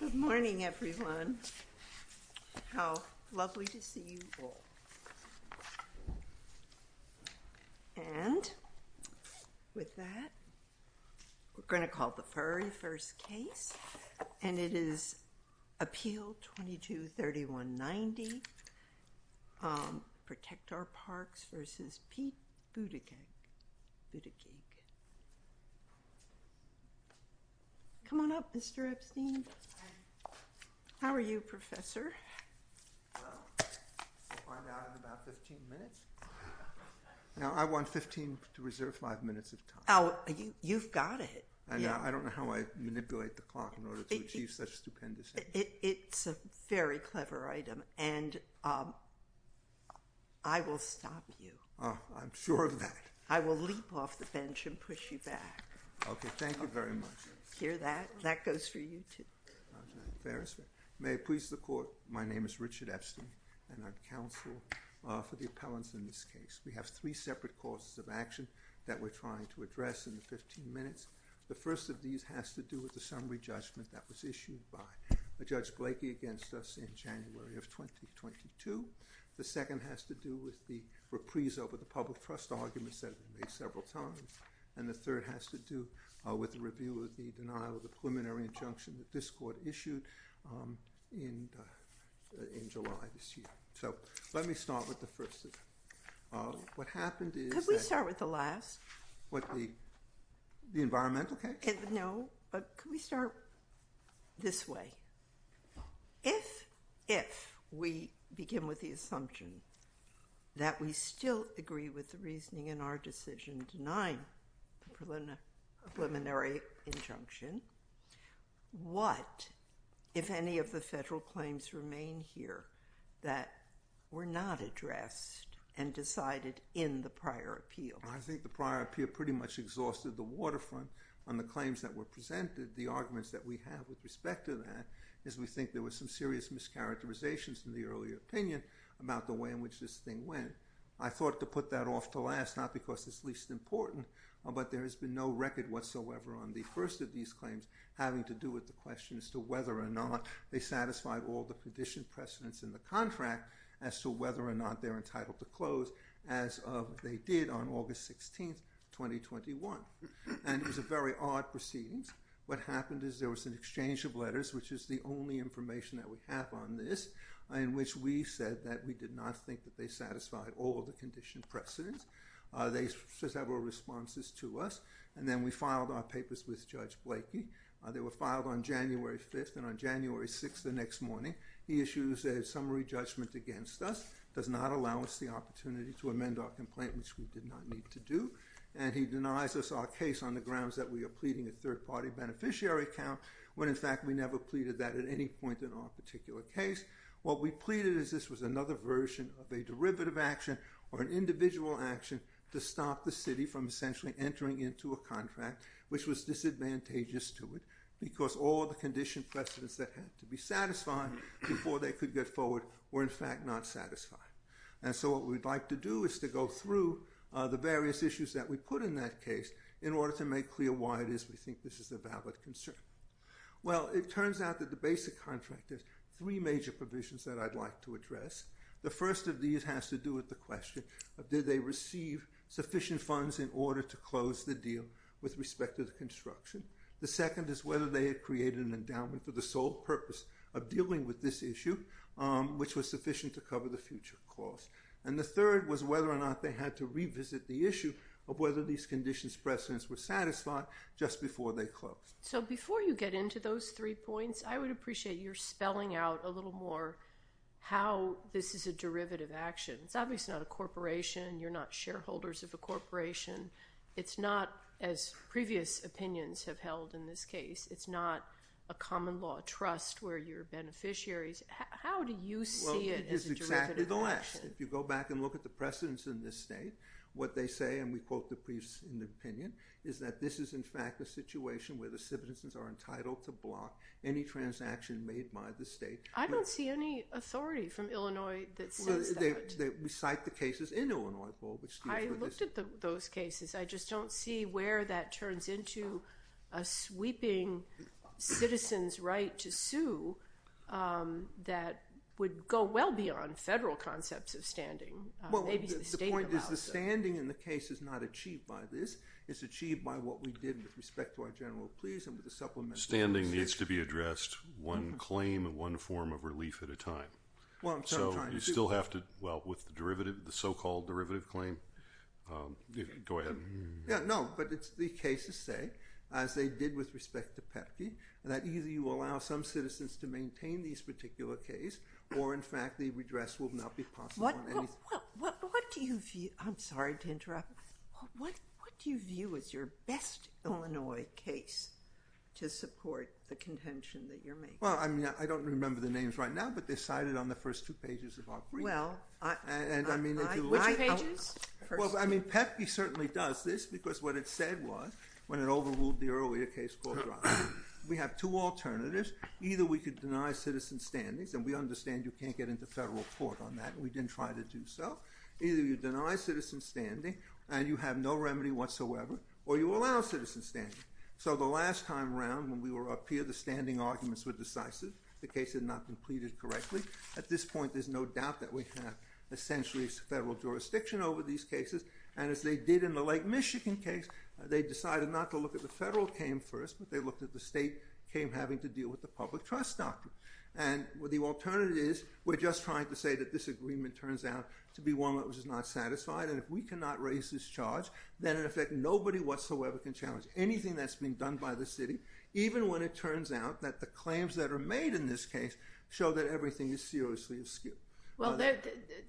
Good morning, everyone. How lovely to see you all. And with that, we're going to call the very first case, and it is Appeal 22-3190, Protect Our Parks v. Pete Buttigieg. Come on up, Mr. Epstein. How are you, Professor? I'm out in about 15 minutes. Now, I want 15 to reserve five minutes of time. Oh, you've got it. I don't know how I manipulate the clock in order to achieve such stupendous... It's a very clever item, and I will stop you. Oh, I'm sure of that. I will leap off the bench and push you back. Okay, thank you very much. Hear that? That goes for you, too. May it please the Court, my name is Richard Epstein, and I'm counsel for the appellants in this case. We have three separate causes of action that we're trying to address in the 15 minutes. The first of these has to do with the summary judgment that was issued by Judge Blakey against us in January of 2022. The second has to do with the reprise over the public trust arguments that have been made several times. And the third has to do with the review of the denial of the preliminary injunction that this Court issued in July this year. So, let me start with the first. What happened is... Could we start with the last? What, the environmental case? No, but could we start this way? If we begin with the assumption that we still agree with reasoning in our decision denying the preliminary injunction, what, if any, of the federal claims remain here that were not addressed and decided in the prior appeal? I think the prior appeal pretty much exhausted the waterfront on the claims that were presented. The arguments that we have with respect to that is we think there were some serious mischaracterizations in the earlier opinion about the way in which this thing went. I thought to put that off to last, not because it's least important, but there has been no record whatsoever on the first of these claims having to do with the question as to whether or not they satisfied all the condition precedents in the contract as to whether or not they're entitled to close as they did on August 16th, 2021. And it was a very odd proceedings. What happened is there was an exchange of letters, which is the only information that we have on this, in which we said that we did not think that they satisfied all of the condition precedents. They sent several responses to us, and then we filed our papers with Judge Blakey. They were filed on January 5th, and on January 6th, the next morning, he issues a summary judgment against us, does not allow us the opportunity to amend our complaint, which we did not need to do, and he denies us our case on the grounds that we are pleading a third-party beneficiary count, when in fact we never pleaded that at any point in our particular case. What we pleaded is this was another version of a derivative action or an individual action to stop the city from essentially entering into a contract, which was disadvantageous to it, because all the condition precedents that had to be satisfied before they could get forward were in fact not satisfied. And so what we'd like to do is to go through the various issues that we put in that case in order to make clear why it is we think this is a valid concern. Well, it turns out that the basic contract has three major provisions that I'd like to address. The first of these has to do with the question of did they receive sufficient funds in order to close the deal with respect to the construction. The second is whether they had created an endowment for the sole purpose of dealing with this issue, which was sufficient to cover the future cost. And the third was whether or not they had to revisit the issue of whether these conditions precedents were satisfied just before they closed. So before you get into those three points, I would appreciate your spelling out a little more how this is a derivative action. It's obviously not a corporation. You're not shareholders of a corporation. It's not, as previous opinions have held in this case, it's not a common law trust where you're beneficiaries. How do you see it as a derivative action? Well, it is exactly the last. If you go back and look at the precedents in this state, what they say, and we quote the briefs in the opinion, is that this is, in fact, a situation where the citizens are entitled to block any transaction made by the state. I don't see any authority from Illinois that says that. We cite the cases in Illinois. I looked at those cases. I just don't see where that turns into a sweeping citizen's right to sue that would go well beyond federal concepts of standing. Well, the point is the standing in the case is not achieved by this. It's achieved by what we did with respect to our general pleas and with the supplement. Standing needs to be addressed one claim and one form of relief at a time. So you still have to, well, with the derivative, the so-called derivative claim, go ahead. Yeah, no, but it's the cases say, as they did with respect to PEPI, that either you allow some citizens to maintain these particular case or, in fact, the redress will not be possible. What do you view, I'm sorry to interrupt, what do you view as your best Illinois case to support the contention that you're making? Well, I mean, I don't remember the names right now, but they're cited on the first two pages of our brief. Well, which pages? Well, I mean, PEPI certainly does this because what it said was, when it overruled the earlier case, we have two alternatives. Either we could deny citizen standings, and we understand you can't get into federal court on that. We didn't try to do so. Either you deny citizen standing and you have no remedy whatsoever, or you allow citizen standing. So the last time around, when we were up here, the standing arguments were decisive. The case had not completed correctly. At this point, there's no doubt that we have essentially federal jurisdiction over these cases. And as they did in the Lake Michigan case, they decided not to look at the federal claim first, but they looked at the state claim having to deal with the public trust doctrine. And what the alternative is, we're just trying to say that this agreement turns out to be one that was not satisfied. And if we cannot raise this charge, then in effect, nobody whatsoever can challenge anything that's being done by the city, even when it turns out that the claims that are made in this case show that everything is seriously askew. Well,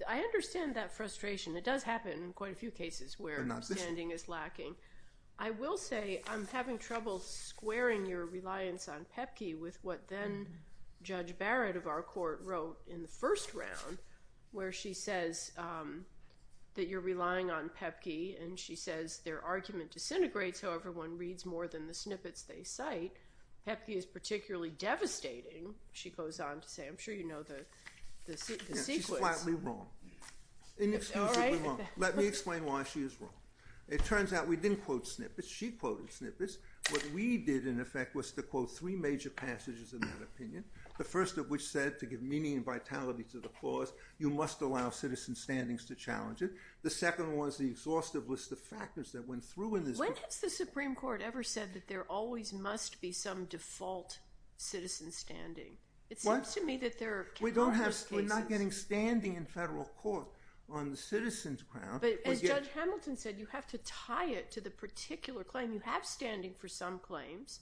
I understand that frustration. It does happen in quite a few cases where standing is lacking. I will say I'm having trouble squaring your reliance on PEPC with what then Judge Barrett of our court wrote in the first round, where she says that you're relying on PEPC, and she says their argument disintegrates however one reads more than the snippets they cite. PEPC is particularly devastating, she goes on to say. I'm sure you know the sequence. She's flatly wrong. Inexcusably wrong. Let me explain why she is wrong. It turns out we didn't quote snippets, she quoted snippets. What we did in effect was to quote three major passages in that opinion, the first of which said to give meaning and vitality to the clause, you must allow citizen standings to challenge it. The second one is the exhaustive list of factors that went through in this. When has the Supreme Court ever said that there always must be some default citizen standing? It seems to me that there are countless cases. We're not getting standing in federal court on the citizen's grounds. But as Judge Hamilton said, you have to tie it to the particular claim. You have standing for some claims,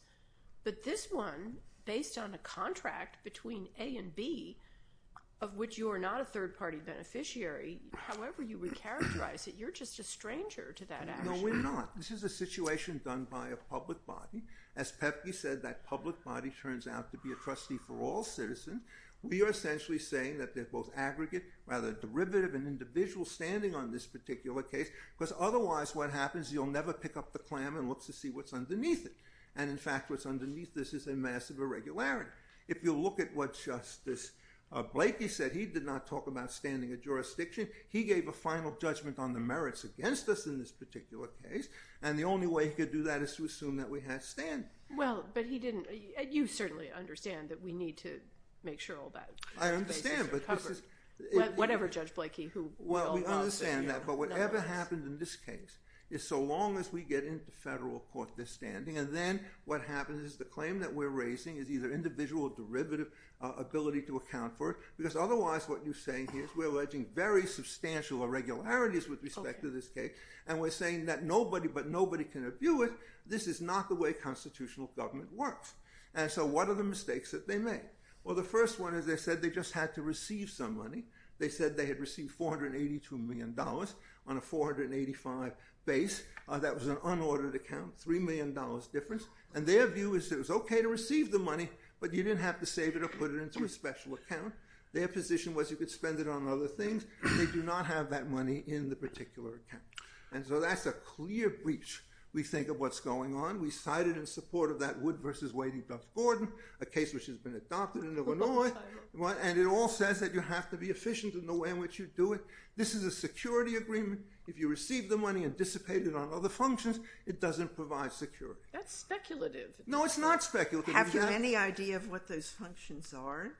but this one, based on a contract between A and B, of which you are not a third party beneficiary, however you recharacterize it, you're just a stranger to that action. No, we're not. This is a situation done by a public body. As PEPC said, that public body turns out to be a trustee for all citizens. We are essentially saying that they're both aggregate, rather derivative and individual standing on this particular case, because otherwise what happens, you'll never pick up the clam and look to see what's underneath it. And in fact, what's underneath this is a massive irregularity. If you look at what Justice Blakey said, he did not talk about standing a jurisdiction. He gave a final judgment on the merits against us in this particular case. And the only way he could do that is to assume that we had standing. Well, but he didn't. You certainly understand that we need to make sure all that is covered. I understand, but this is... Whatever Judge Blakey who... Well, we understand that, but whatever happens in this case is so long as we get into federal court this standing, and then what happens is the claim that we're raising is either individual derivative ability to account for it, because otherwise what you're saying here is we're alleging very substantial irregularities with respect to this case. And we're saying that but nobody can view it. This is not the way constitutional government works. And so what are the mistakes that they made? Well, the first one is they said they just had to receive some money. They said they had received $482 million on a 485 base. That was an unordered account, $3 million difference. And their view is it was okay to receive the money, but you didn't have to save it or put it into a special account. Their position was you could spend it on other things. They do not have that money in the particular account. And so that's a clear breach, we think, of what's going on. We cited in support of that Wood v. Wadey-Duff-Gordon, a case which has been adopted in Illinois. And it all says that you have to be efficient in the way in which you do it. This is a security agreement. If you receive the money and dissipate it on other functions, it doesn't provide security. That's speculative. No, it's not speculative. Have you any idea of what those functions are?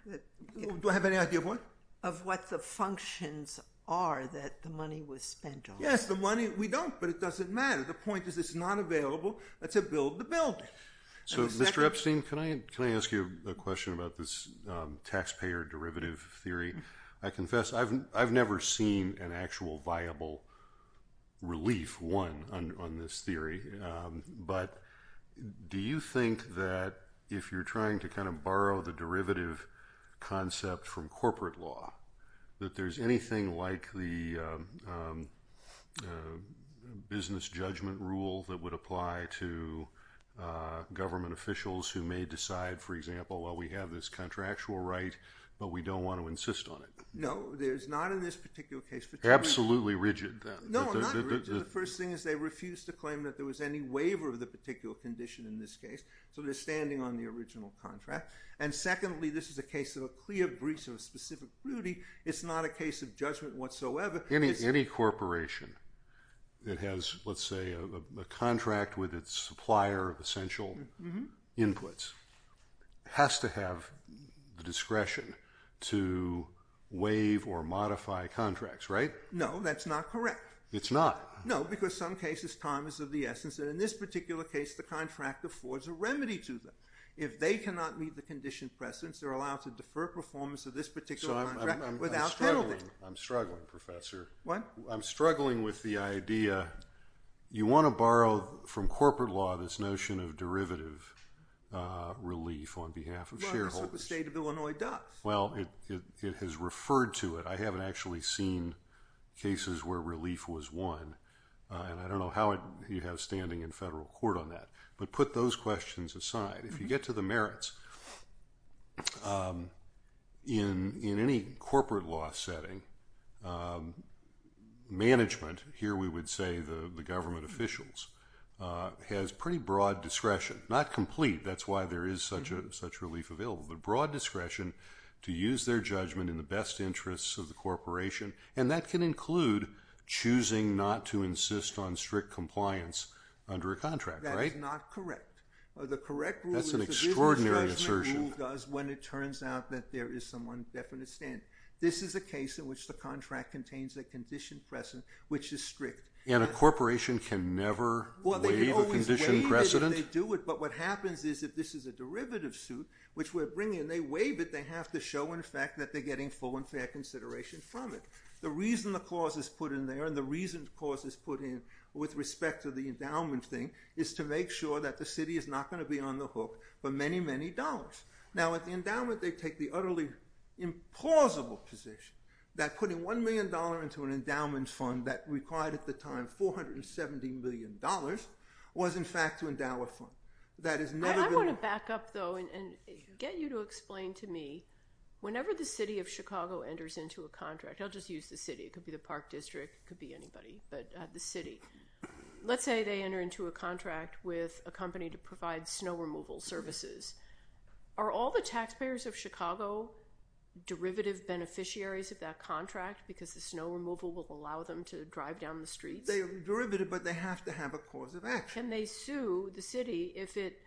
Do I have any idea of what? Of what the functions are that the money was spent on? Yes, the money, we don't, but it doesn't matter. The point is it's not available. That's a build to build. So, Mr. Epstein, can I ask you a question about this taxpayer derivative theory? I confess I've never seen an actual viable relief, one, on this theory. But do you think that if you're trying to that there's anything like the business judgment rule that would apply to government officials who may decide, for example, well, we have this contractual right, but we don't want to insist on it? No, there's not in this particular case. Absolutely rigid. No, not rigid. The first thing is they refuse to claim that there was any waiver of the particular condition in this case. So they're standing on the original contract. And secondly, this is a case of a clear breach of a specific crudity. It's not a case of judgment whatsoever. Any corporation that has, let's say, a contract with its supplier of essential inputs has to have the discretion to waive or modify contracts, right? No, that's not correct. It's not? No, because some cases time is of the essence. And in this particular case, the contract affords a remedy to them. If they cannot meet the condition precedence, they're allowed to defer performance of this particular contract without penalty. I'm struggling, Professor. What? I'm struggling with the idea. You want to borrow from corporate law this notion of derivative relief on behalf of shareholders. Well, that's what the state of Illinois does. Well, it has referred to it. I haven't actually seen cases where relief was one. And I don't know how you have standing in federal court on that. But put those questions aside, if you get to the merits, in any corporate law setting, management, here we would say the government officials, has pretty broad discretion, not complete, that's why there is such a relief available, but broad discretion to use their judgment in the best interests of the corporation. And that can include choosing not to insist on strict compliance under a contract, right? That is not correct. That's an extraordinary assertion. That's an extraordinary rule does when it turns out that there is some one definite standard. This is a case in which the contract contains a condition precedent, which is strict. And a corporation can never waive a condition precedent? Well, they can always waive it if they do it. But what happens is if this is a derivative suit, which we're bringing, and they waive it, they have to show in fact that they're getting full consideration from it. The reason the clause is put in there, and the reason the clause is put in with respect to the endowment thing, is to make sure that the city is not going to be on the hook for many, many dollars. Now at the endowment, they take the utterly implausible position that putting $1 million into an endowment fund that required at the time $470 million was in fact to endow a fund. I want to back up though and get you to explain to me, whenever the city of Chicago enters into a contract, I'll just use the city. It could be the park district. It could be anybody, but the city. Let's say they enter into a contract with a company to provide snow removal services. Are all the taxpayers of Chicago derivative beneficiaries of that contract because the snow removal will allow them to drive down the streets? They are derivative, but they have to have a cause of action. They sue the city if it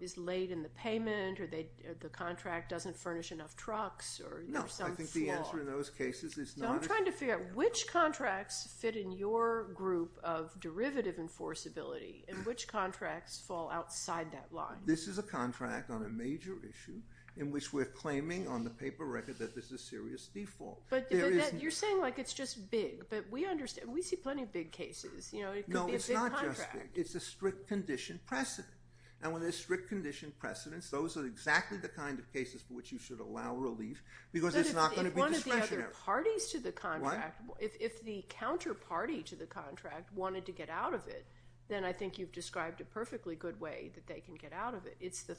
is late in the payment, or the contract doesn't furnish enough trucks, or some flaw. I'm trying to figure out which contracts fit in your group of derivative enforceability, and which contracts fall outside that line. This is a contract on a major issue in which we're claiming on the paper record that this is serious default. You're saying it's just big, but we understand. We see plenty of big cases. No, it's not just big. It's a strict condition precedent. When there's strict condition precedents, those are exactly the kind of cases for which you should allow relief because it's not going to be discretionary. If the counterparty to the contract wanted to get out of it, then I think you've described a perfectly good way that they can get out of it. It's the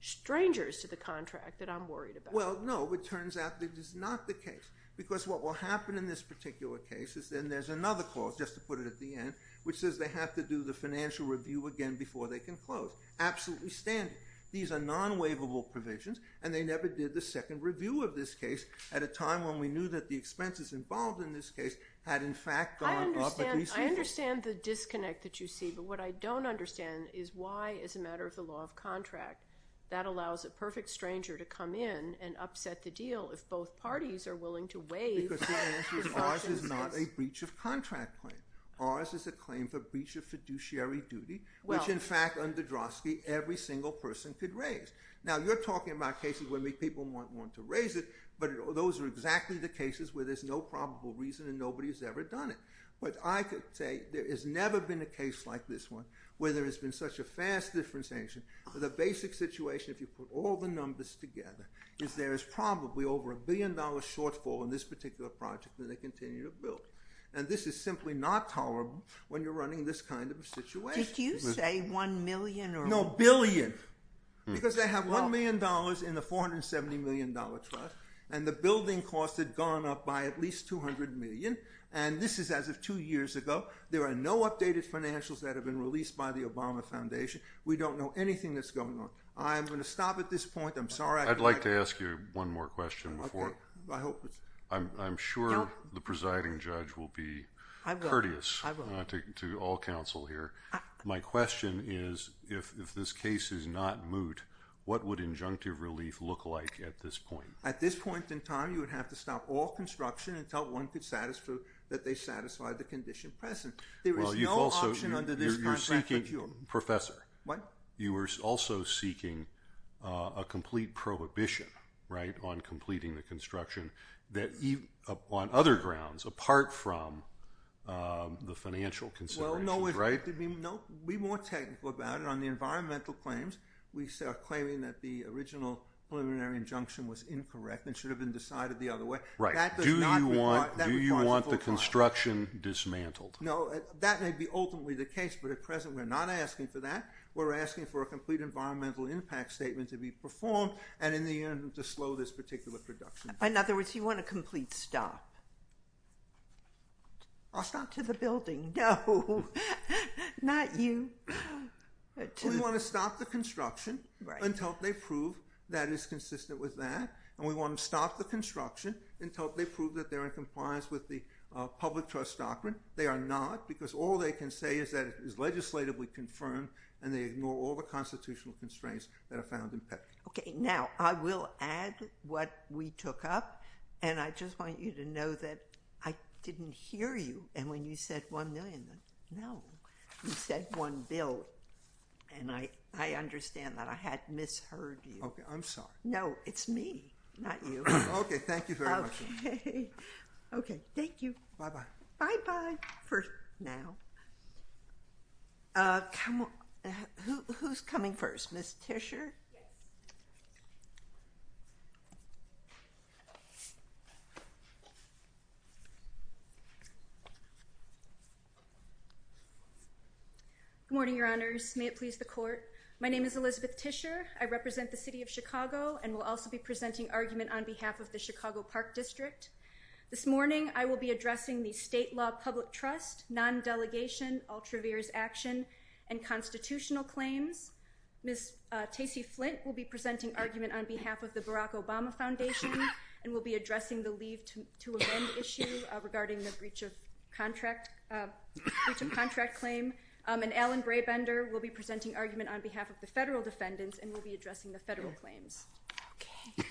strangers to the contract that I'm worried about. No, it turns out that it is not the case because what will happen in this particular case is then there's another clause, just to put it at the end, which says they have to do the financial review again before they can close. Absolutely standard. These are non-waivable provisions, and they never did the second review of this case at a time when we knew that the expenses involved in this case had, in fact, gone up. I understand the disconnect that you see, but what I don't understand is why, as a matter of the law of contract, that allows a perfect stranger to come in and upset the deal if both parties are willing to waive- Because the answer is ours is not a breach of contract claim. Ours is a claim for breach of fiduciary duty, which, in fact, under Drosky, every single person could raise. Now, you're talking about cases where people might want to raise it, but those are exactly the cases where there's no probable reason and nobody has ever done it. What I could say, there has never been a case like this one where there has been such a fast differentiation. The basic situation, if you put all the numbers together, is there is probably over a billion dollars shortfall in this particular project that they continue to build, and this is simply not tolerable when you're running this kind of a situation. Did you say one million or- No, billion, because they have $1 million in the $470 million trust, and the building cost had gone up by at least $200 million, and this is as of two years ago. There are no updated financials that have been released by the Obama Foundation. We don't know anything that's going on. I'm going to stop at this point. I'd like to ask you one more question. I'm sure the presiding judge will be courteous to all counsel here. My question is, if this case is not moot, what would injunctive relief look like at this point? At this point in time, you would have to stop all construction until one could satisfy the condition present. There is no option under this a complete prohibition on completing the construction on other grounds apart from the financial considerations. Be more technical about it. On the environmental claims, we are claiming that the original preliminary injunction was incorrect and should have been decided the other way. That does not require- Do you want the construction dismantled? No. That may be ultimately the case, but at present, we're not asking for that. We're asking for a complete environmental impact statement to be performed and in the end to slow this particular production. In other words, you want a complete stop? I'll stop. To the building. No, not you. We want to stop the construction until they prove that it's consistent with that. We want to stop the construction until they prove that they're in compliance with the public trust doctrine. They are not because all they can say is that it is legislatively confirmed and they ignore all the constitutional constraints that are found in PEPFAR. Okay. Now, I will add what we took up and I just want you to know that I didn't hear you and when you said one million, no. You said one bill and I understand that. I had misheard you. Okay. I'm sorry. No, it's me, not you. Okay. Thank you very much. Okay. Okay. Thank you. Bye-bye. Bye-bye for now. Uh, come on. Who's coming first? Ms. Tischer? Good morning, your honors. May it please the court. My name is Elizabeth Tischer. I represent the city of Chicago and will also be presenting argument on behalf of the Chicago Park District. This morning, I will be addressing the state law public trust, non-delegation, all traverse action and constitutional claims. Ms. Tacey Flint will be presenting argument on behalf of the Barack Obama Foundation and will be addressing the leave to amend issue regarding the breach of contract, breach of contract claim. And Alan Brabender will be presenting argument on behalf of the federal defendants and will be addressing the federal claims. Okay.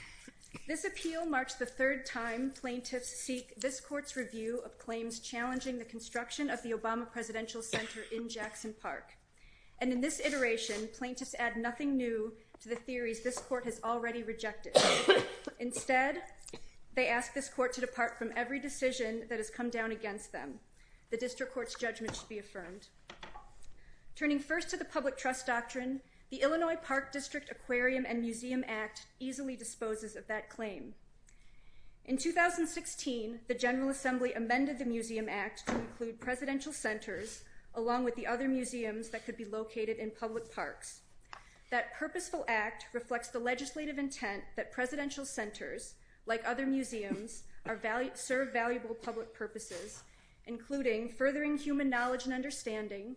This appeal marks the third time plaintiffs seek this court's review of claims challenging the construction of the Obama Presidential Center in Jackson Park. And in this iteration, plaintiffs add nothing new to the theories this court has already rejected. Instead, they ask this court to depart from every decision that has come down against them. The district court's judgment should be affirmed. Turning first to the public trust doctrine, the Illinois Park District Aquarium and Museum Act easily disposes of that claim. In 2016, the General Assembly amended the Museum Act to include presidential centers along with the other museums that could be located in public parks. That purposeful act reflects the legislative intent that presidential centers, like other museums, serve valuable public purposes, including furthering human knowledge and understanding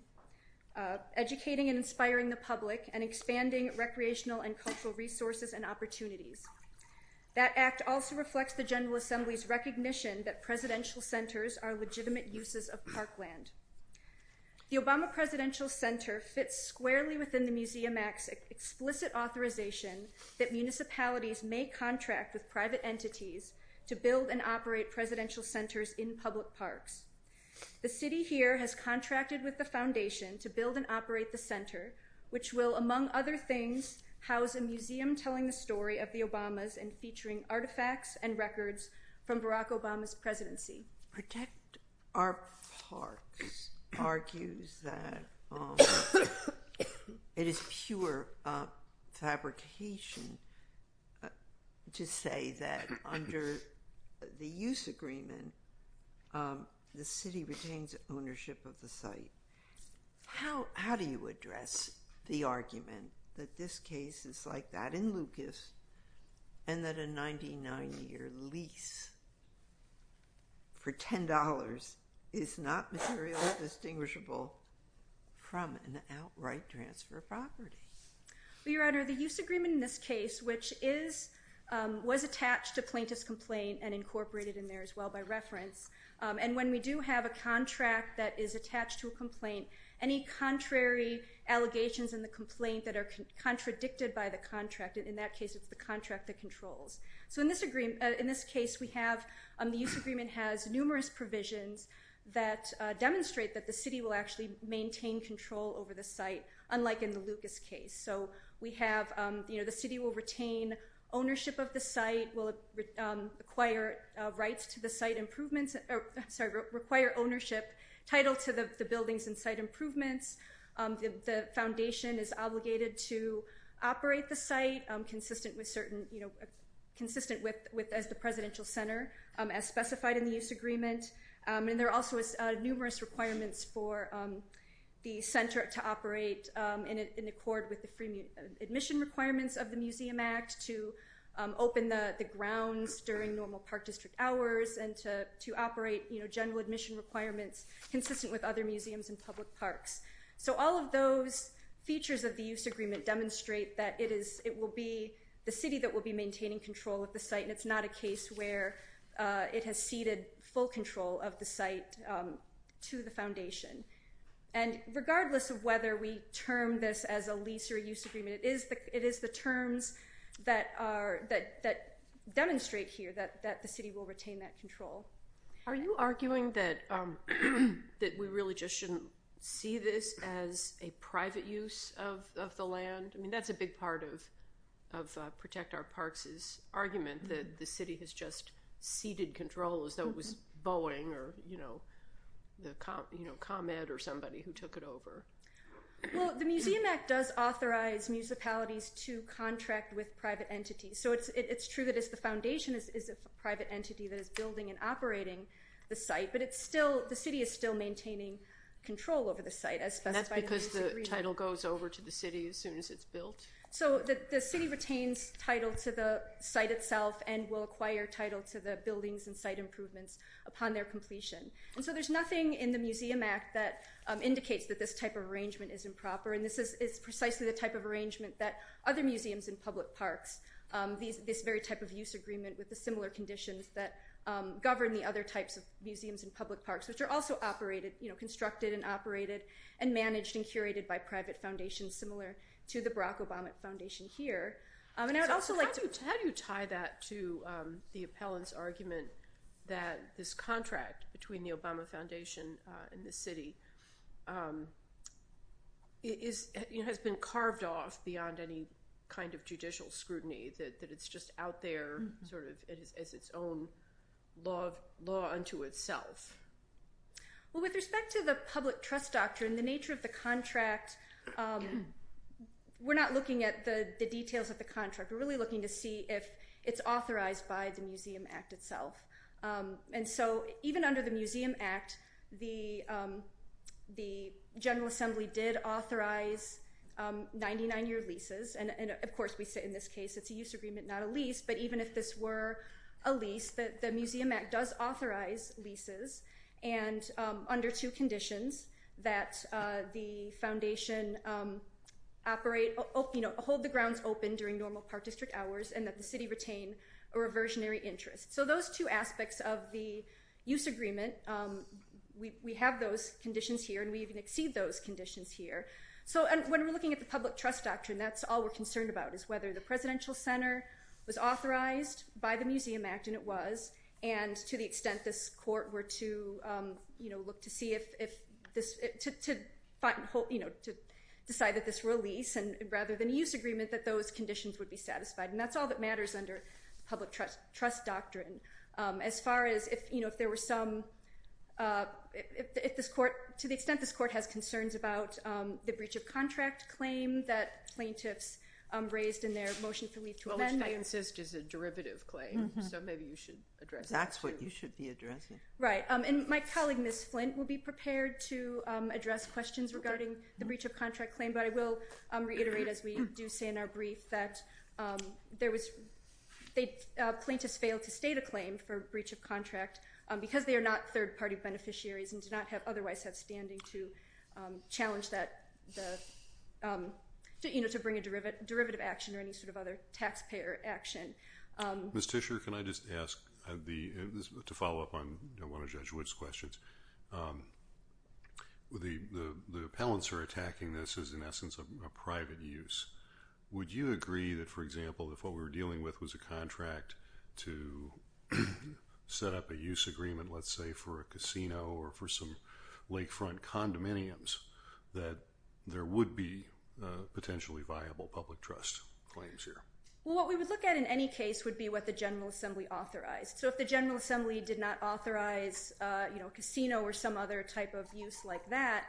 educating and inspiring the public and expanding recreational and cultural resources and opportunities. That act also reflects the General Assembly's recognition that presidential centers are legitimate uses of parkland. The Obama Presidential Center fits squarely within the Museum Act's explicit authorization that municipalities may contract with private entities to build and operate presidential centers in public parks. The city here has contracted with the foundation to build and operate the center, which will, among other things, house a museum telling the story of the Obamas and featuring artifacts and records from Barack Obama's presidency. Protect Our Parks argues that it is pure fabrication to say that under the use agreement the city retains ownership of the site. How do you address the argument that this case is like that in Lucas and that a 99-year lease for $10 is not materially distinguishable from an outright transfer of property? Your Honor, the use agreement in this case, which is was attached to plaintiff's complaint and incorporated in there as well by reference, and when we do have a contract that is attached to a complaint, any contrary allegations in the complaint that are contradicted by the contract, in that case it's the contract that controls. So in this agreement, in this case we have, the use agreement has numerous provisions that demonstrate that the city will actually maintain control over the site, unlike in the Lucas case. So we have, the city will retain ownership of the site, will require rights to the site improvements, sorry, require ownership, title to the buildings and site improvements. The foundation is obligated to operate the site consistent with certain, consistent with, as the presidential center, as specified in the use agreement. And there are also numerous requirements for the center to operate in accord with the free admission requirements of the Museum Act to open the grounds during normal park district hours and to operate general admission requirements consistent with other museums and public parks. So all of those features of the use agreement demonstrate that it is, it will be the city that will be maintaining control of the where it has ceded full control of the site to the foundation. And regardless of whether we term this as a lease or use agreement, it is the terms that demonstrate here that the city will retain that control. Are you arguing that we really just shouldn't see this as a private use of the has just ceded control as though it was Boeing or, you know, the, you know, ComEd or somebody who took it over? Well, the Museum Act does authorize municipalities to contract with private entities. So it's true that it's the foundation is a private entity that is building and operating the site, but it's still, the city is still maintaining control over the site as specified. And that's because the title goes over to the city as soon as it's built? So the city retains title to the site itself and will acquire title to the buildings and site improvements upon their completion. And so there's nothing in the Museum Act that indicates that this type of arrangement is improper. And this is precisely the type of arrangement that other museums and public parks, this very type of use agreement with the similar conditions that govern the other types of museums and public parks, which are also operated, you know, constructed and funded by the Obama Foundation here. And I would also like to... How do you tie that to the appellant's argument that this contract between the Obama Foundation and the city is, you know, has been carved off beyond any kind of judicial scrutiny, that it's just out there sort of as its own law unto itself? Well, with respect to the public trust doctrine, the nature of the contract, we're not looking at the details of the contract. We're really looking to see if it's authorized by the Museum Act itself. And so even under the Museum Act, the General Assembly did authorize 99-year leases. And of course, we say in this case, it's a use agreement, not a lease. But even if this were a lease, the Museum Act does authorize leases, and under two conditions, that the foundation operate, you know, hold the grounds open during normal park district hours, and that the city retain a reversionary interest. So those two aspects of the use agreement, we have those conditions here, and we even exceed those conditions here. So when we're looking at the public trust doctrine, that's all we're concerned about is whether the Presidential Center was authorized by the Museum Act, and it was, and to the extent this court were to, you know, look to see if this, to decide that this release, and rather than a use agreement, that those conditions would be satisfied. And that's all that matters under public trust doctrine. As far as if, you know, if there were some, if this court, to the extent this court has concerns about the breach of contract claim that plaintiffs raised in their motion for leave to amend. Which I insist is a derivative claim, so maybe you should address that. That's what you should be addressing. Right. And my colleague, Ms. Flint, will be prepared to address questions regarding the breach of contract claim, but I will reiterate, as we do say in our brief, that there was, they, plaintiffs failed to state a claim for breach of contract, because they are not third-party beneficiaries, and do not have, otherwise have standing to challenge that, the, you know, to bring a derivative action, or any sort of other taxpayer action. Ms. Tischer, can I just ask the, to follow up on one of Judge Wood's questions. The appellants are attacking this as, in essence, a private use. Would you agree that, for example, if what we were dealing with was a contract to set up a use agreement, let's say for a casino, or for some lakefront condominiums, that there would be potentially viable public trust claims here? Well, what we would look at in any case would be what the General Assembly authorized. So if the General Assembly did not authorize, you know, a casino or some other type of use like that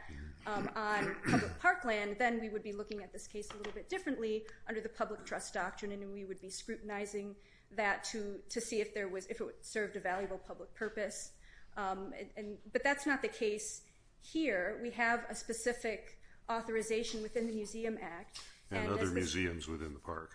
on public parkland, then we would be looking at this case a little bit differently under the public trust doctrine, and we would be scrutinizing that to see if there was, if it served a valuable public purpose. But that's not the case here. We have a specific authorization within the Museum Act. And other museums within the park.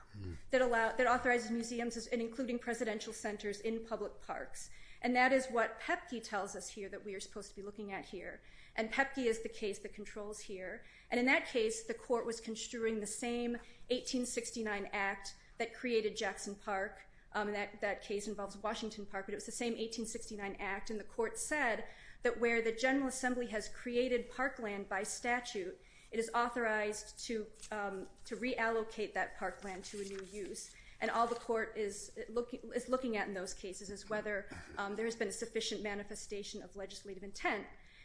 That allow, that authorizes museums, and including presidential centers, in public parks. And that is what PEPC tells us here, that we are supposed to be looking at here. And PEPC is the case that controls here. And in that case, the court was construing the same 1869 Act that created Jackson Park. That case involves Washington Park, but it was the same 1869 Act. And the court said that where the General Assembly has created parkland by statute, it is authorized to reallocate that parkland to a new use. And all the court is looking at in those cases is whether there has been a sufficient manifestation of legislative intent.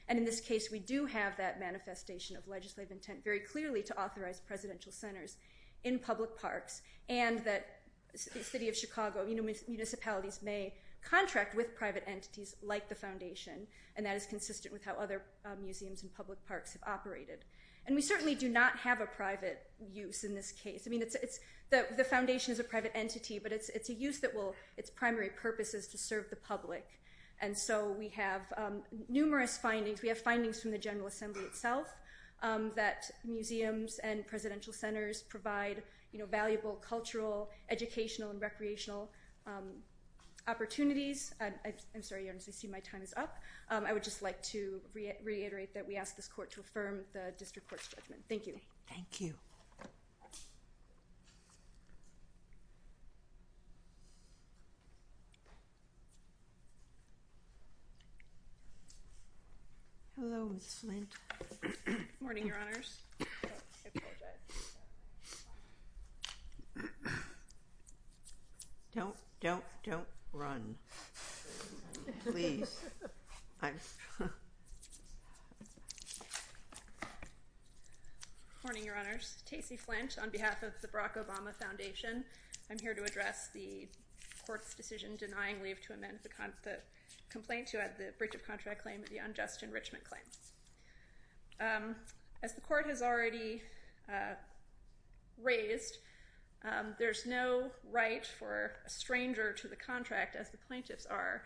And in this case, we do have that manifestation of legislative intent very clearly to authorize presidential centers in public parks. And that the city of Chicago, municipalities may contract with private entities like the foundation. And that is consistent with how other museums and public parks have operated. And we certainly do not have a private use in this case. I mean, it's, the foundation is a private entity, but it's a use that will, its primary purpose is to serve the public. And so we have numerous findings. We have findings from the General Assembly that show that presidential centers provide, you know, valuable cultural, educational, and recreational opportunities. I'm sorry, your Honor, I see my time is up. I would just like to reiterate that we ask this court to affirm the district court's judgment. Thank you. Thank you. Hello, Ms. Flint. Morning, your Honors. Don't, don't, don't run. Please. Morning, your Honors. Tacey Flint on behalf of the Barack Obama Foundation, I'm here to address the court's decision denying leave to amend the complaint to add the breach of contract claim at the unjust enrichment claim. As the court has already raised, there's no right for a stranger to the contract as the plaintiffs are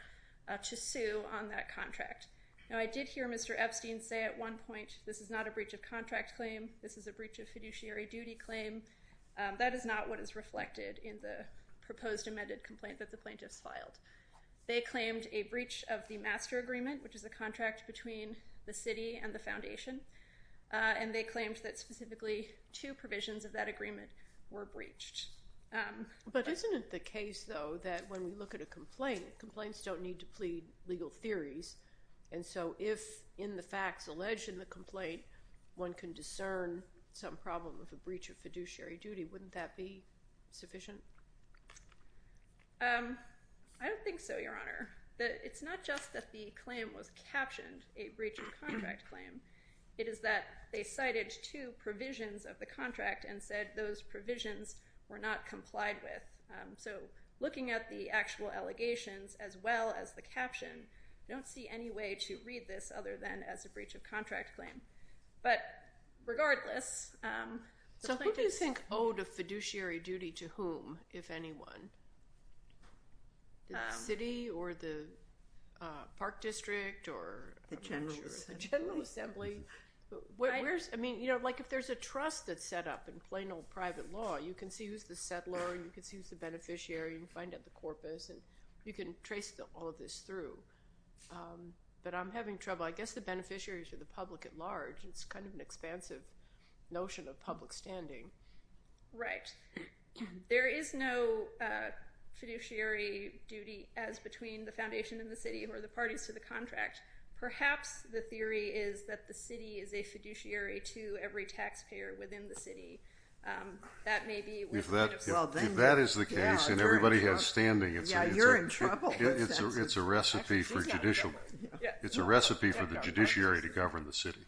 to sue on that contract. Now, I did hear Mr. Epstein say at one point, this is not a breach of contract claim. This is a breach of fiduciary duty claim. That is not what is reflected in the proposed amended complaint that the plaintiffs filed. They claimed a breach of master agreement, which is a contract between the city and the foundation. And they claimed that specifically two provisions of that agreement were breached. But isn't it the case, though, that when we look at a complaint, complaints don't need to plead legal theories. And so if in the facts alleged in the complaint, one can discern some problem with a breach of fiduciary duty, wouldn't that be sufficient? I don't think so, Your Honor. It's not just that the claim was captioned a breach of contract claim. It is that they cited two provisions of the contract and said those provisions were not complied with. So looking at the actual allegations as well as the caption, I don't see any way to read this other than as a breach of contract claim. But regardless, the plaintiffs- So who do you think owed a fiduciary duty to whom, if anyone? The city or the park district or the general assembly? I mean, you know, like if there's a trust that's set up in plain old private law, you can see who's the settler, you can see who's the beneficiary, you can find out the corpus, and you can trace all of this through. But I'm having trouble. I guess the beneficiaries are the public at large. It's kind of an expansive notion of public standing. Right. There is no fiduciary duty as between the foundation and the city or the parties to the contract. Perhaps the theory is that the city is a fiduciary to every taxpayer within the city. That may be- If that is the case and everybody has standing- Yeah, you're in trouble. It's a recipe for judicial. It's a recipe for the judiciary to govern the city.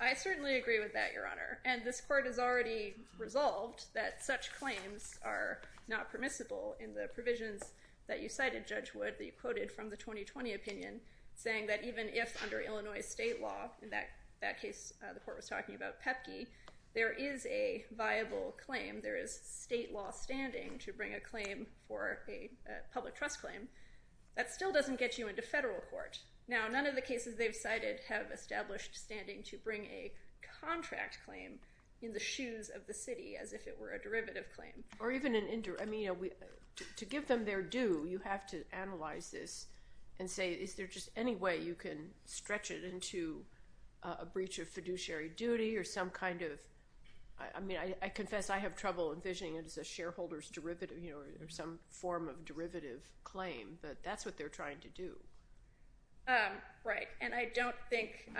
I certainly agree with that, Your Honor. And this court has already resolved that such claims are not permissible in the provisions that you cited, Judge Wood, that you quoted from the 2020 opinion, saying that even if under Illinois state law, in that case, the court was talking about PEPC, there is a viable claim. There is state law standing to bring a claim for a public trust claim. That still doesn't get you into federal court. Now, none of the cases they've cited have established standing to bring a contract claim in the shoes of the city as if it were a derivative claim. To give them their due, you have to analyze this and say, is there just any way you can stretch it into a breach of fiduciary duty or some kind of- I confess I have trouble envisioning it but that's what they're trying to do. Right. And I don't think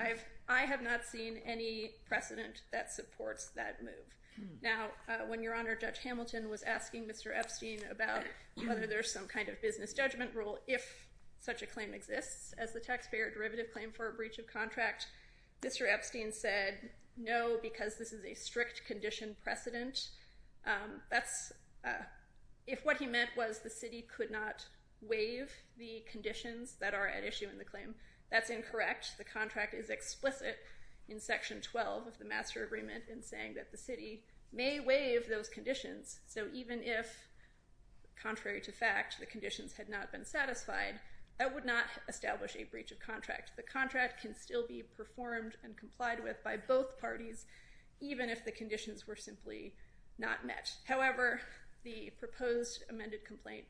I have not seen any precedent that supports that move. Now, when Your Honor, Judge Hamilton was asking Mr. Epstein about whether there's some kind of business judgment rule if such a claim exists as the taxpayer derivative claim for a breach of contract, Mr. Epstein said, no, because this is a strict condition precedent. If what he meant was the city could not waive the conditions that are at issue in the claim, that's incorrect. The contract is explicit in section 12 of the master agreement in saying that the city may waive those conditions. So even if, contrary to fact, the conditions had not been satisfied, that would not establish a breach of contract. The contract can still be performed and complied with by both parties even if the conditions were simply not met. However, the proposed amended complaint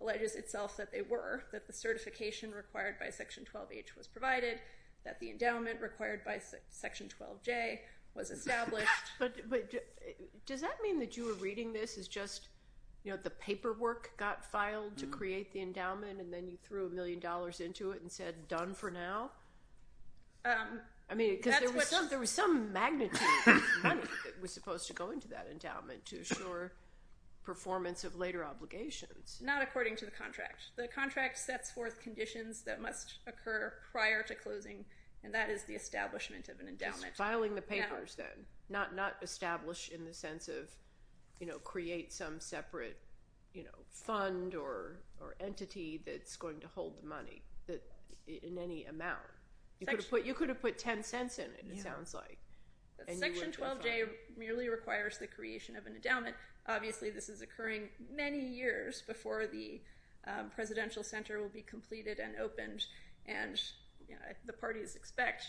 alleges itself that they were, that the certification required by section 12H was provided, that the endowment required by section 12J was established. But does that mean that you were reading this as just, you know, the paperwork got filed to create the endowment and then you threw a million dollars into it and done for now? I mean, there was some magnitude of money that was supposed to go into that endowment to assure performance of later obligations. Not according to the contract. The contract sets forth conditions that must occur prior to closing and that is the establishment of an endowment. Just filing the papers then, not establish in the sense of, you know, create some separate, you know, fund or entity that's going to hold the money in any amount. You could have put 10 cents in it, it sounds like. Section 12J merely requires the creation of an endowment. Obviously, this is occurring many years before the presidential center will be completed and opened and, you know, the parties expect.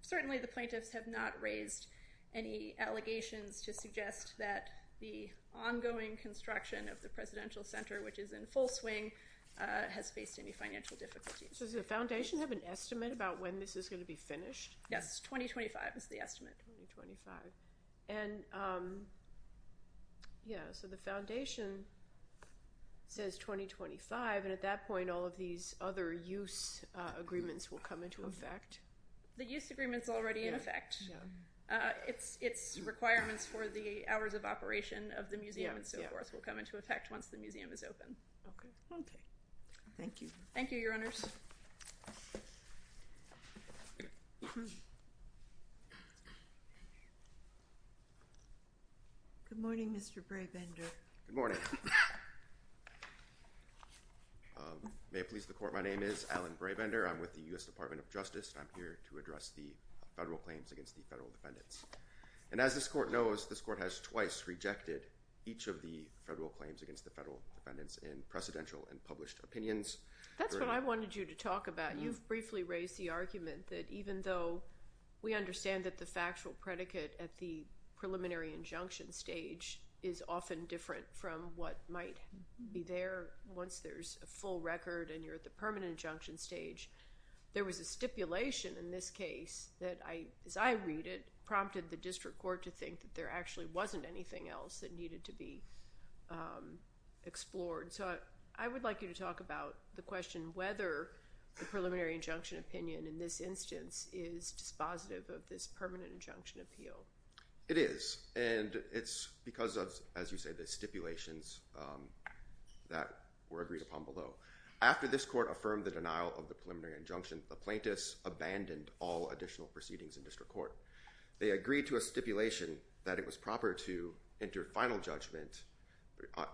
Certainly, the plaintiffs have not raised any allegations to suggest that the ongoing construction of the presidential center, which is in full swing, has faced any financial difficulties. Does the foundation have an estimate about when this is going to be finished? Yes, 2025 is the estimate. 2025. And, yeah, so the foundation says 2025 and at that point all of these other use agreements will come into effect? The use agreement's already in effect. It's requirements for the hours of operation of the museum and so forth will come into effect once the museum is open. Okay. Okay. Thank you. Thank you, your honors. Good morning, Mr. Brabender. Good morning. May it please the court, my name is Alan Brabender. I'm with the U.S. Department of Justice. I'm here to address the federal claims against the federal defendants. And as this court knows, this court has twice rejected each of the federal claims against the federal defendants in precedential and published opinions. That's what I wanted you to talk about. You've briefly raised the argument that even though we understand that the factual predicate at the preliminary injunction stage is often different from what might be there once there's a full record and the permanent injunction stage, there was a stipulation in this case that, as I read it, prompted the district court to think that there actually wasn't anything else that needed to be explored. So I would like you to talk about the question whether the preliminary injunction opinion in this instance is dispositive of this permanent injunction appeal. It is. And it's because, as you say, the stipulations that were agreed upon below. After this court affirmed the denial of the preliminary injunction, the plaintiffs abandoned all additional proceedings in district court. They agreed to a stipulation that it was proper to enter final judgment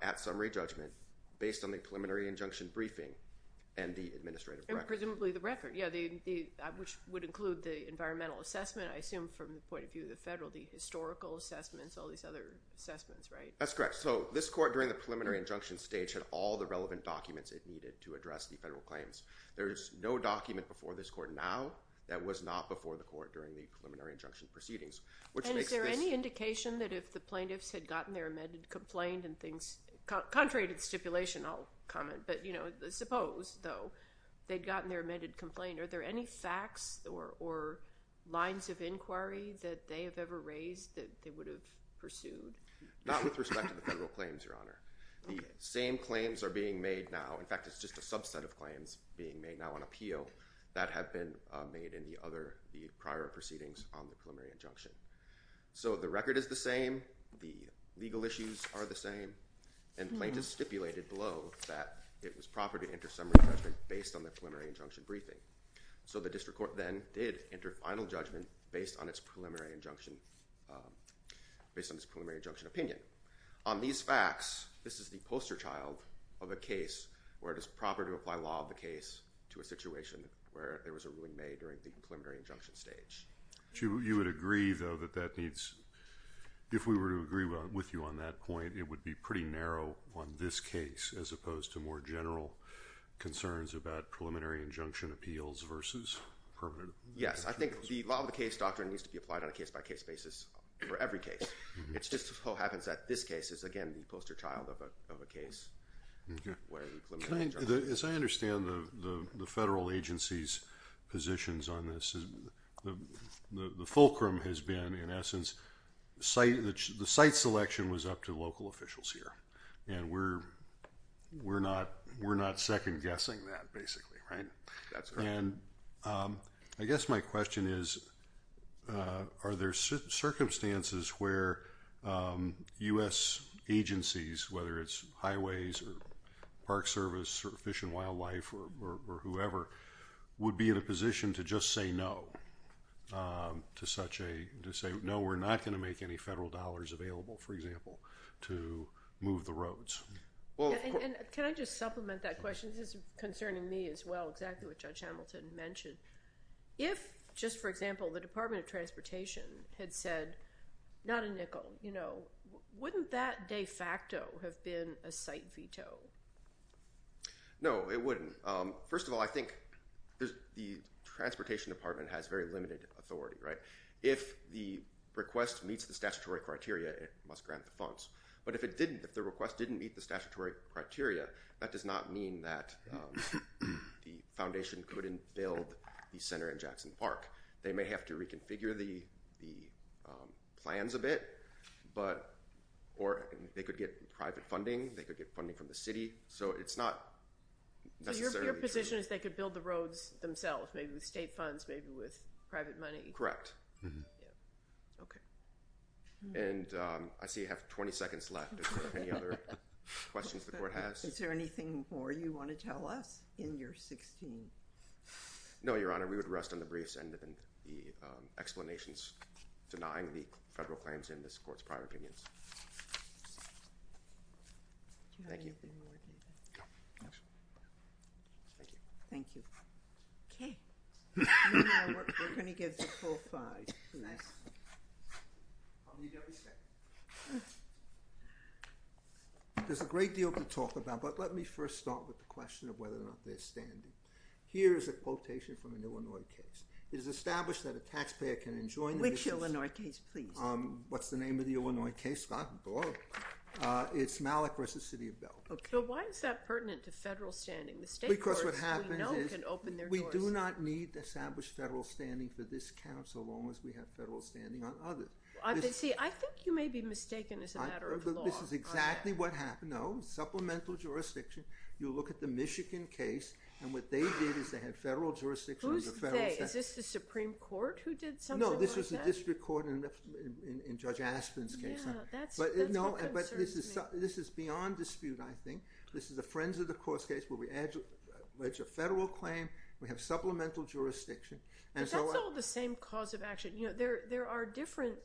at summary judgment based on the preliminary injunction briefing and the administrative record. And presumably the record, yeah, which would include the environmental assessment, I assume from the point of view of the federal, the historical assessments, all these other assessments, right? That's correct. So this court during the preliminary injunction stage had all the relevant documents it needed to address the federal claims. There's no document before this court now that was not before the court during the preliminary injunction proceedings. And is there any indication that if the plaintiffs had gotten their amended complaint and things, contrary to the stipulation, I'll comment, but suppose though they'd gotten their amended complaint, are there any facts or lines of inquiry that they have ever raised that they pursued? Not with respect to the federal claims, Your Honor. The same claims are being made now. In fact, it's just a subset of claims being made now on appeal that have been made in the other, the prior proceedings on the preliminary injunction. So the record is the same. The legal issues are the same. And plaintiffs stipulated below that it was proper to enter summary judgment based on the preliminary injunction briefing. So the district court then did enter final judgment based on its preliminary injunction, based on its preliminary injunction opinion. On these facts, this is the poster child of a case where it is proper to apply law of the case to a situation where there was a ruling made during the preliminary injunction stage. You would agree though that that needs, if we were to agree with you on that point, it would be pretty narrow on this case as opposed to more general concerns about preliminary injunction appeals versus permanent. Yes, I think the law of the case doctrine needs to be applied on a case by case basis for every case. It's just so happens that this case is again the poster child of a case. As I understand the federal agency's positions on this, the fulcrum has been in essence, the site selection was up to local officials here. And we're not second guessing that basically, right? And I guess my question is, are there circumstances where U.S. agencies, whether it's highways or park service or fish and wildlife or whoever, would be in a position to just say no. To say no, we're not going to make any federal dollars available, for example, to move the roads. Can I just supplement that question? This is concerning me as well, exactly what Judge Hamilton mentioned. If, just for example, the Department of Transportation had said not a nickel, wouldn't that de facto have been a site veto? No, it wouldn't. First of all, I think the Transportation Department has very limited authority, right? If the request meets the statutory criteria, it must grant the funds. But if it didn't, if the request didn't meet the statutory criteria, that does not mean that the foundation couldn't build the center in Jackson Park. They may have to reconfigure the plans a bit, but, or they could get private funding, they could get funding from the city, so it's not necessarily true. So your position is they could build the roads themselves, maybe with state funds, maybe with private money? Correct. Okay. And I see you have 20 seconds left if there are any other questions the Court has. Is there anything more you want to tell us in your 16th? No, Your Honor, we would rest on the briefs and the explanations denying the federal claims in this Court's prior opinions. Thank you. Okay. There's a great deal to talk about, but let me first start with the question of whether or not they're standing. Here is a quotation from an Illinois case. It is established that a taxpayer can enjoin the business... Which Illinois case, please? What's the name of the Illinois case, not Illinois. It's Malachres v. City of Belleville. Okay. So why is that pertinent to federal standing? The state courts, we know, can open their doors. Because what happens is, we do not need to establish federal standing for this council as long as we have federal standing on others. See, I think you may be mistaken as a matter of law. This is exactly what happened. No. Supplemental jurisdiction. You look at the Michigan case, and what they did is they had federal jurisdiction. Who's they? Is this the Supreme Court who did something like that? No, this was the district court in Judge Aspin's case. Yeah, that's what concerns me. No, but this is beyond dispute, I think. This is a Friends of the Course case where we allege a federal claim. We have supplemental jurisdiction. But that's all the same cause of action. There are different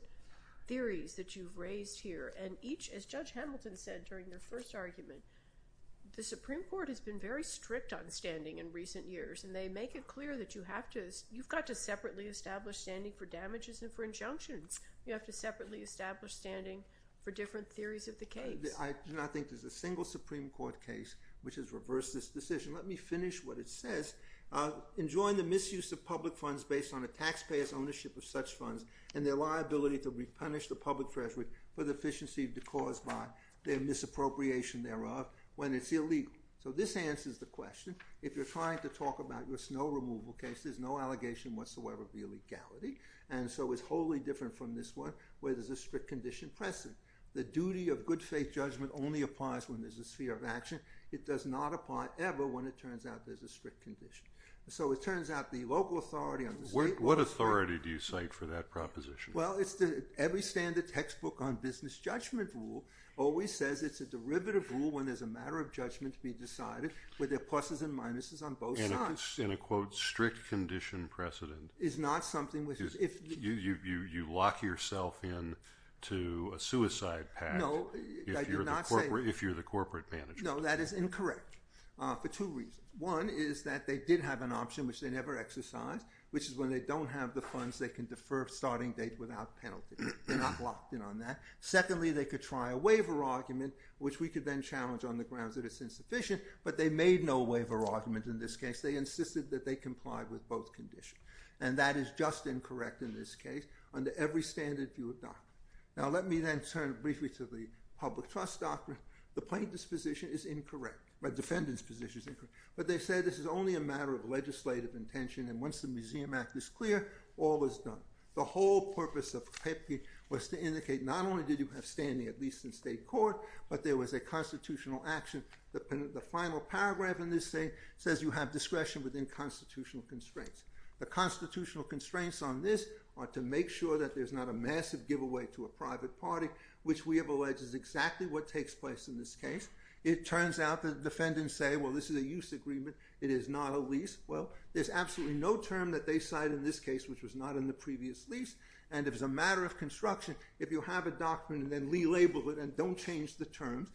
theories that you've raised here. And each, as Judge Hamilton said during their first argument, the Supreme Court has been very strict on standing in recent years. And they make it clear that you have to... You've got to separately establish standing for damages and for injunctions. You have to separately establish standing for different theories of the case. I do not think there's a single Supreme Court case which has reversed this decision. Let me finish what it says. Enjoying the misuse of public funds based on a taxpayer's ownership of such funds and their liability to repunish the public treasury for the efficiency caused by their misappropriation thereof when it's illegal. So this answers the question. If you're trying to talk about your snow removal case, there's no allegation whatsoever of so it's wholly different from this one where there's a strict condition precedent. The duty of good faith judgment only applies when there's a sphere of action. It does not apply ever when it turns out there's a strict condition. So it turns out the local authority on the state... What authority do you cite for that proposition? Well, every standard textbook on business judgment rule always says it's a derivative rule when there's a matter of judgment to be decided where there are pluses and minuses on both sides. In a quote, strict condition precedent. Is not something which is... You lock yourself in to a suicide pact if you're the corporate manager. No, that is incorrect for two reasons. One is that they did have an option which they never exercised which is when they don't have the funds they can defer starting date without penalty. They're not locked in on that. Secondly, they could try a waiver argument which we could then challenge on the grounds that it's insufficient but they made no waiver argument in this case. They insisted that they complied with both conditions and that is just incorrect in this case under every standard view of doctrine. Now let me then turn briefly to the public trust doctrine. The plaintiff's position is incorrect. The defendant's position is incorrect. But they say this is only a matter of legislative intention and once the Museum Act is clear, all is done. The whole purpose of Koepke was to indicate not only did you have standing at least in state court but there was a constitutional action. The final paragraph in this says you have discretion within constitutional constraints. The constitutional constraints on this are to make sure that there's not a massive giveaway to a private party which we have alleged is exactly what takes place in this case. It turns out the defendants say, well, this is a use agreement. It is not a lease. Well, there's absolutely no term that they cite in this case which was not in the previous lease and if it's a matter of construction, if you have a doctrine and then re-label it and don't change the terms,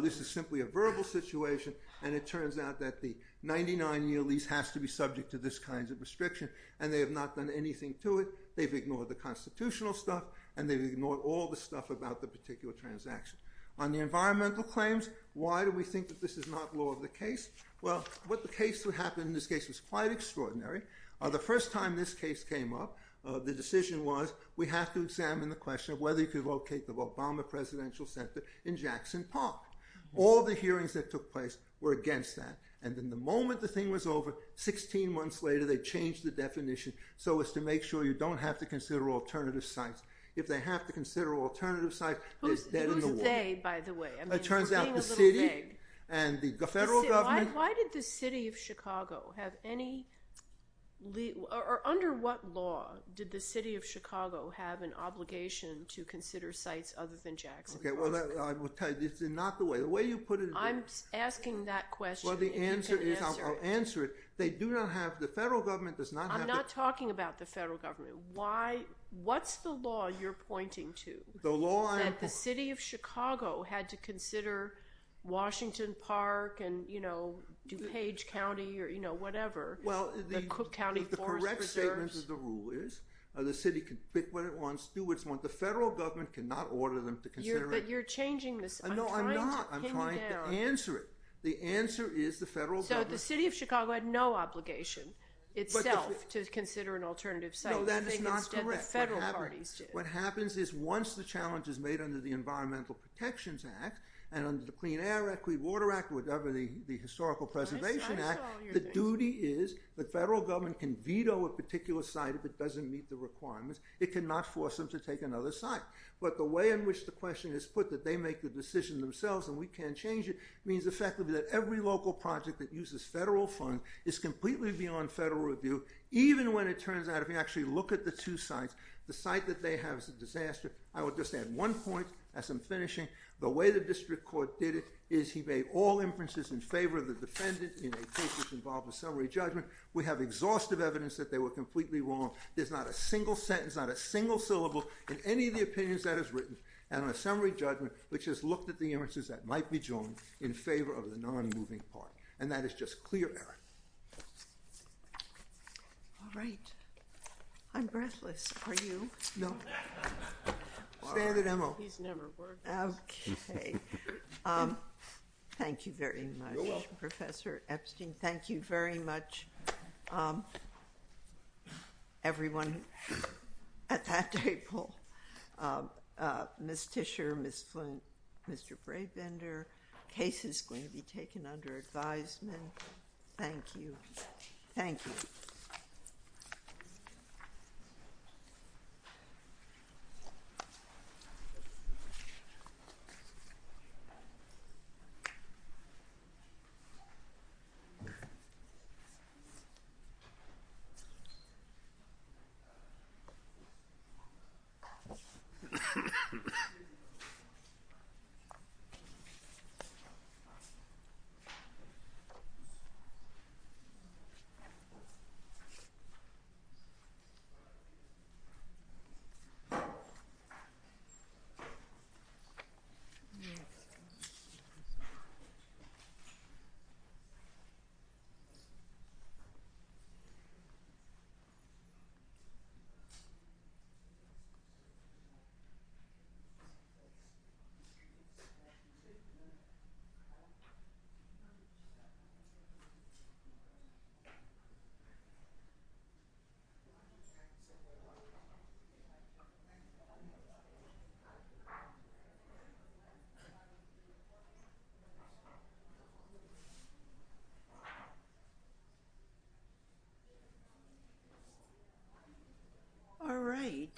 this is simply a verbal situation and it turns out that the 99-year lease has to be subject to this kind of restriction and they have not done anything to it. They've ignored the constitutional stuff and they've ignored all the stuff about the particular transaction. On the environmental claims, why do we think that this is not law of the case? Well, what the case would happen in this case was quite extraordinary. The first time this case came up, the decision was we have to examine the question of whether you could locate the Obama Presidential Center in Jackson Park. All the hearings that took place were against that and then the moment the thing was over, 16 months later, they changed the definition so as to make sure you don't have to consider alternative sites. If they have to consider alternative sites, they're dead in the water. Who's they, by the way? It turns out the city and the federal government... Why did the city of Chicago have any... Under what law did the city of Chicago have an obligation to consider sites other than Jackson Park? Okay, well, I will tell you. It's not the way. The way you put it... I'm asking that question. Well, the answer is... I'll answer it. They do not have... The federal government does not have... I'm not talking about the federal government. Why... What's the law you're pointing to? The law... That the city of Chicago had to consider Washington Park and, you know, DuPage County or, you know, whatever. The Cook County Forest Service... Well, the correct statement of the rule is the city can pick what it wants, do what it wants. The federal government cannot order them to consider it. But you're changing this. No, I'm not. I'm trying to answer it. The answer is the federal government... So the city of Chicago had no obligation itself to consider an alternative site. No, that is not correct. And the federal parties did. What happens is once the challenge is made under the Environmental Protections Act and under the Clean Air Act, Clean Water Act, whatever the Historical Preservation Act, the duty is the federal government can veto a particular site if it doesn't meet the requirements. It cannot force them to take another site. But the way in which the question is put that they make the decision themselves and we can't change it means effectively that every local project that uses federal funds is completely beyond federal review, even when it turns out... If you actually look at the two sites, the site that they have is a disaster. I would just add one point as I'm finishing. The way the district court did it is he made all inferences in favor of the defendant in a case which involved a summary judgment. We have exhaustive evidence that they were completely wrong. There's not a single sentence, not a single syllable in any of the opinions that is written and on a summary judgment which has looked at the inferences that might be joined in favor of the non-moving part. And that is just clear error. All right. I'm breathless. Are you? No. Standard MO. He's never worked. Okay. Thank you very much, Professor Epstein. Thank you very much. Everyone at that table, Ms. Tischer, Ms. Flint, Mr. Brabender, case is going to be taken under advisement. Thank you. Thank you. Thank you. All right.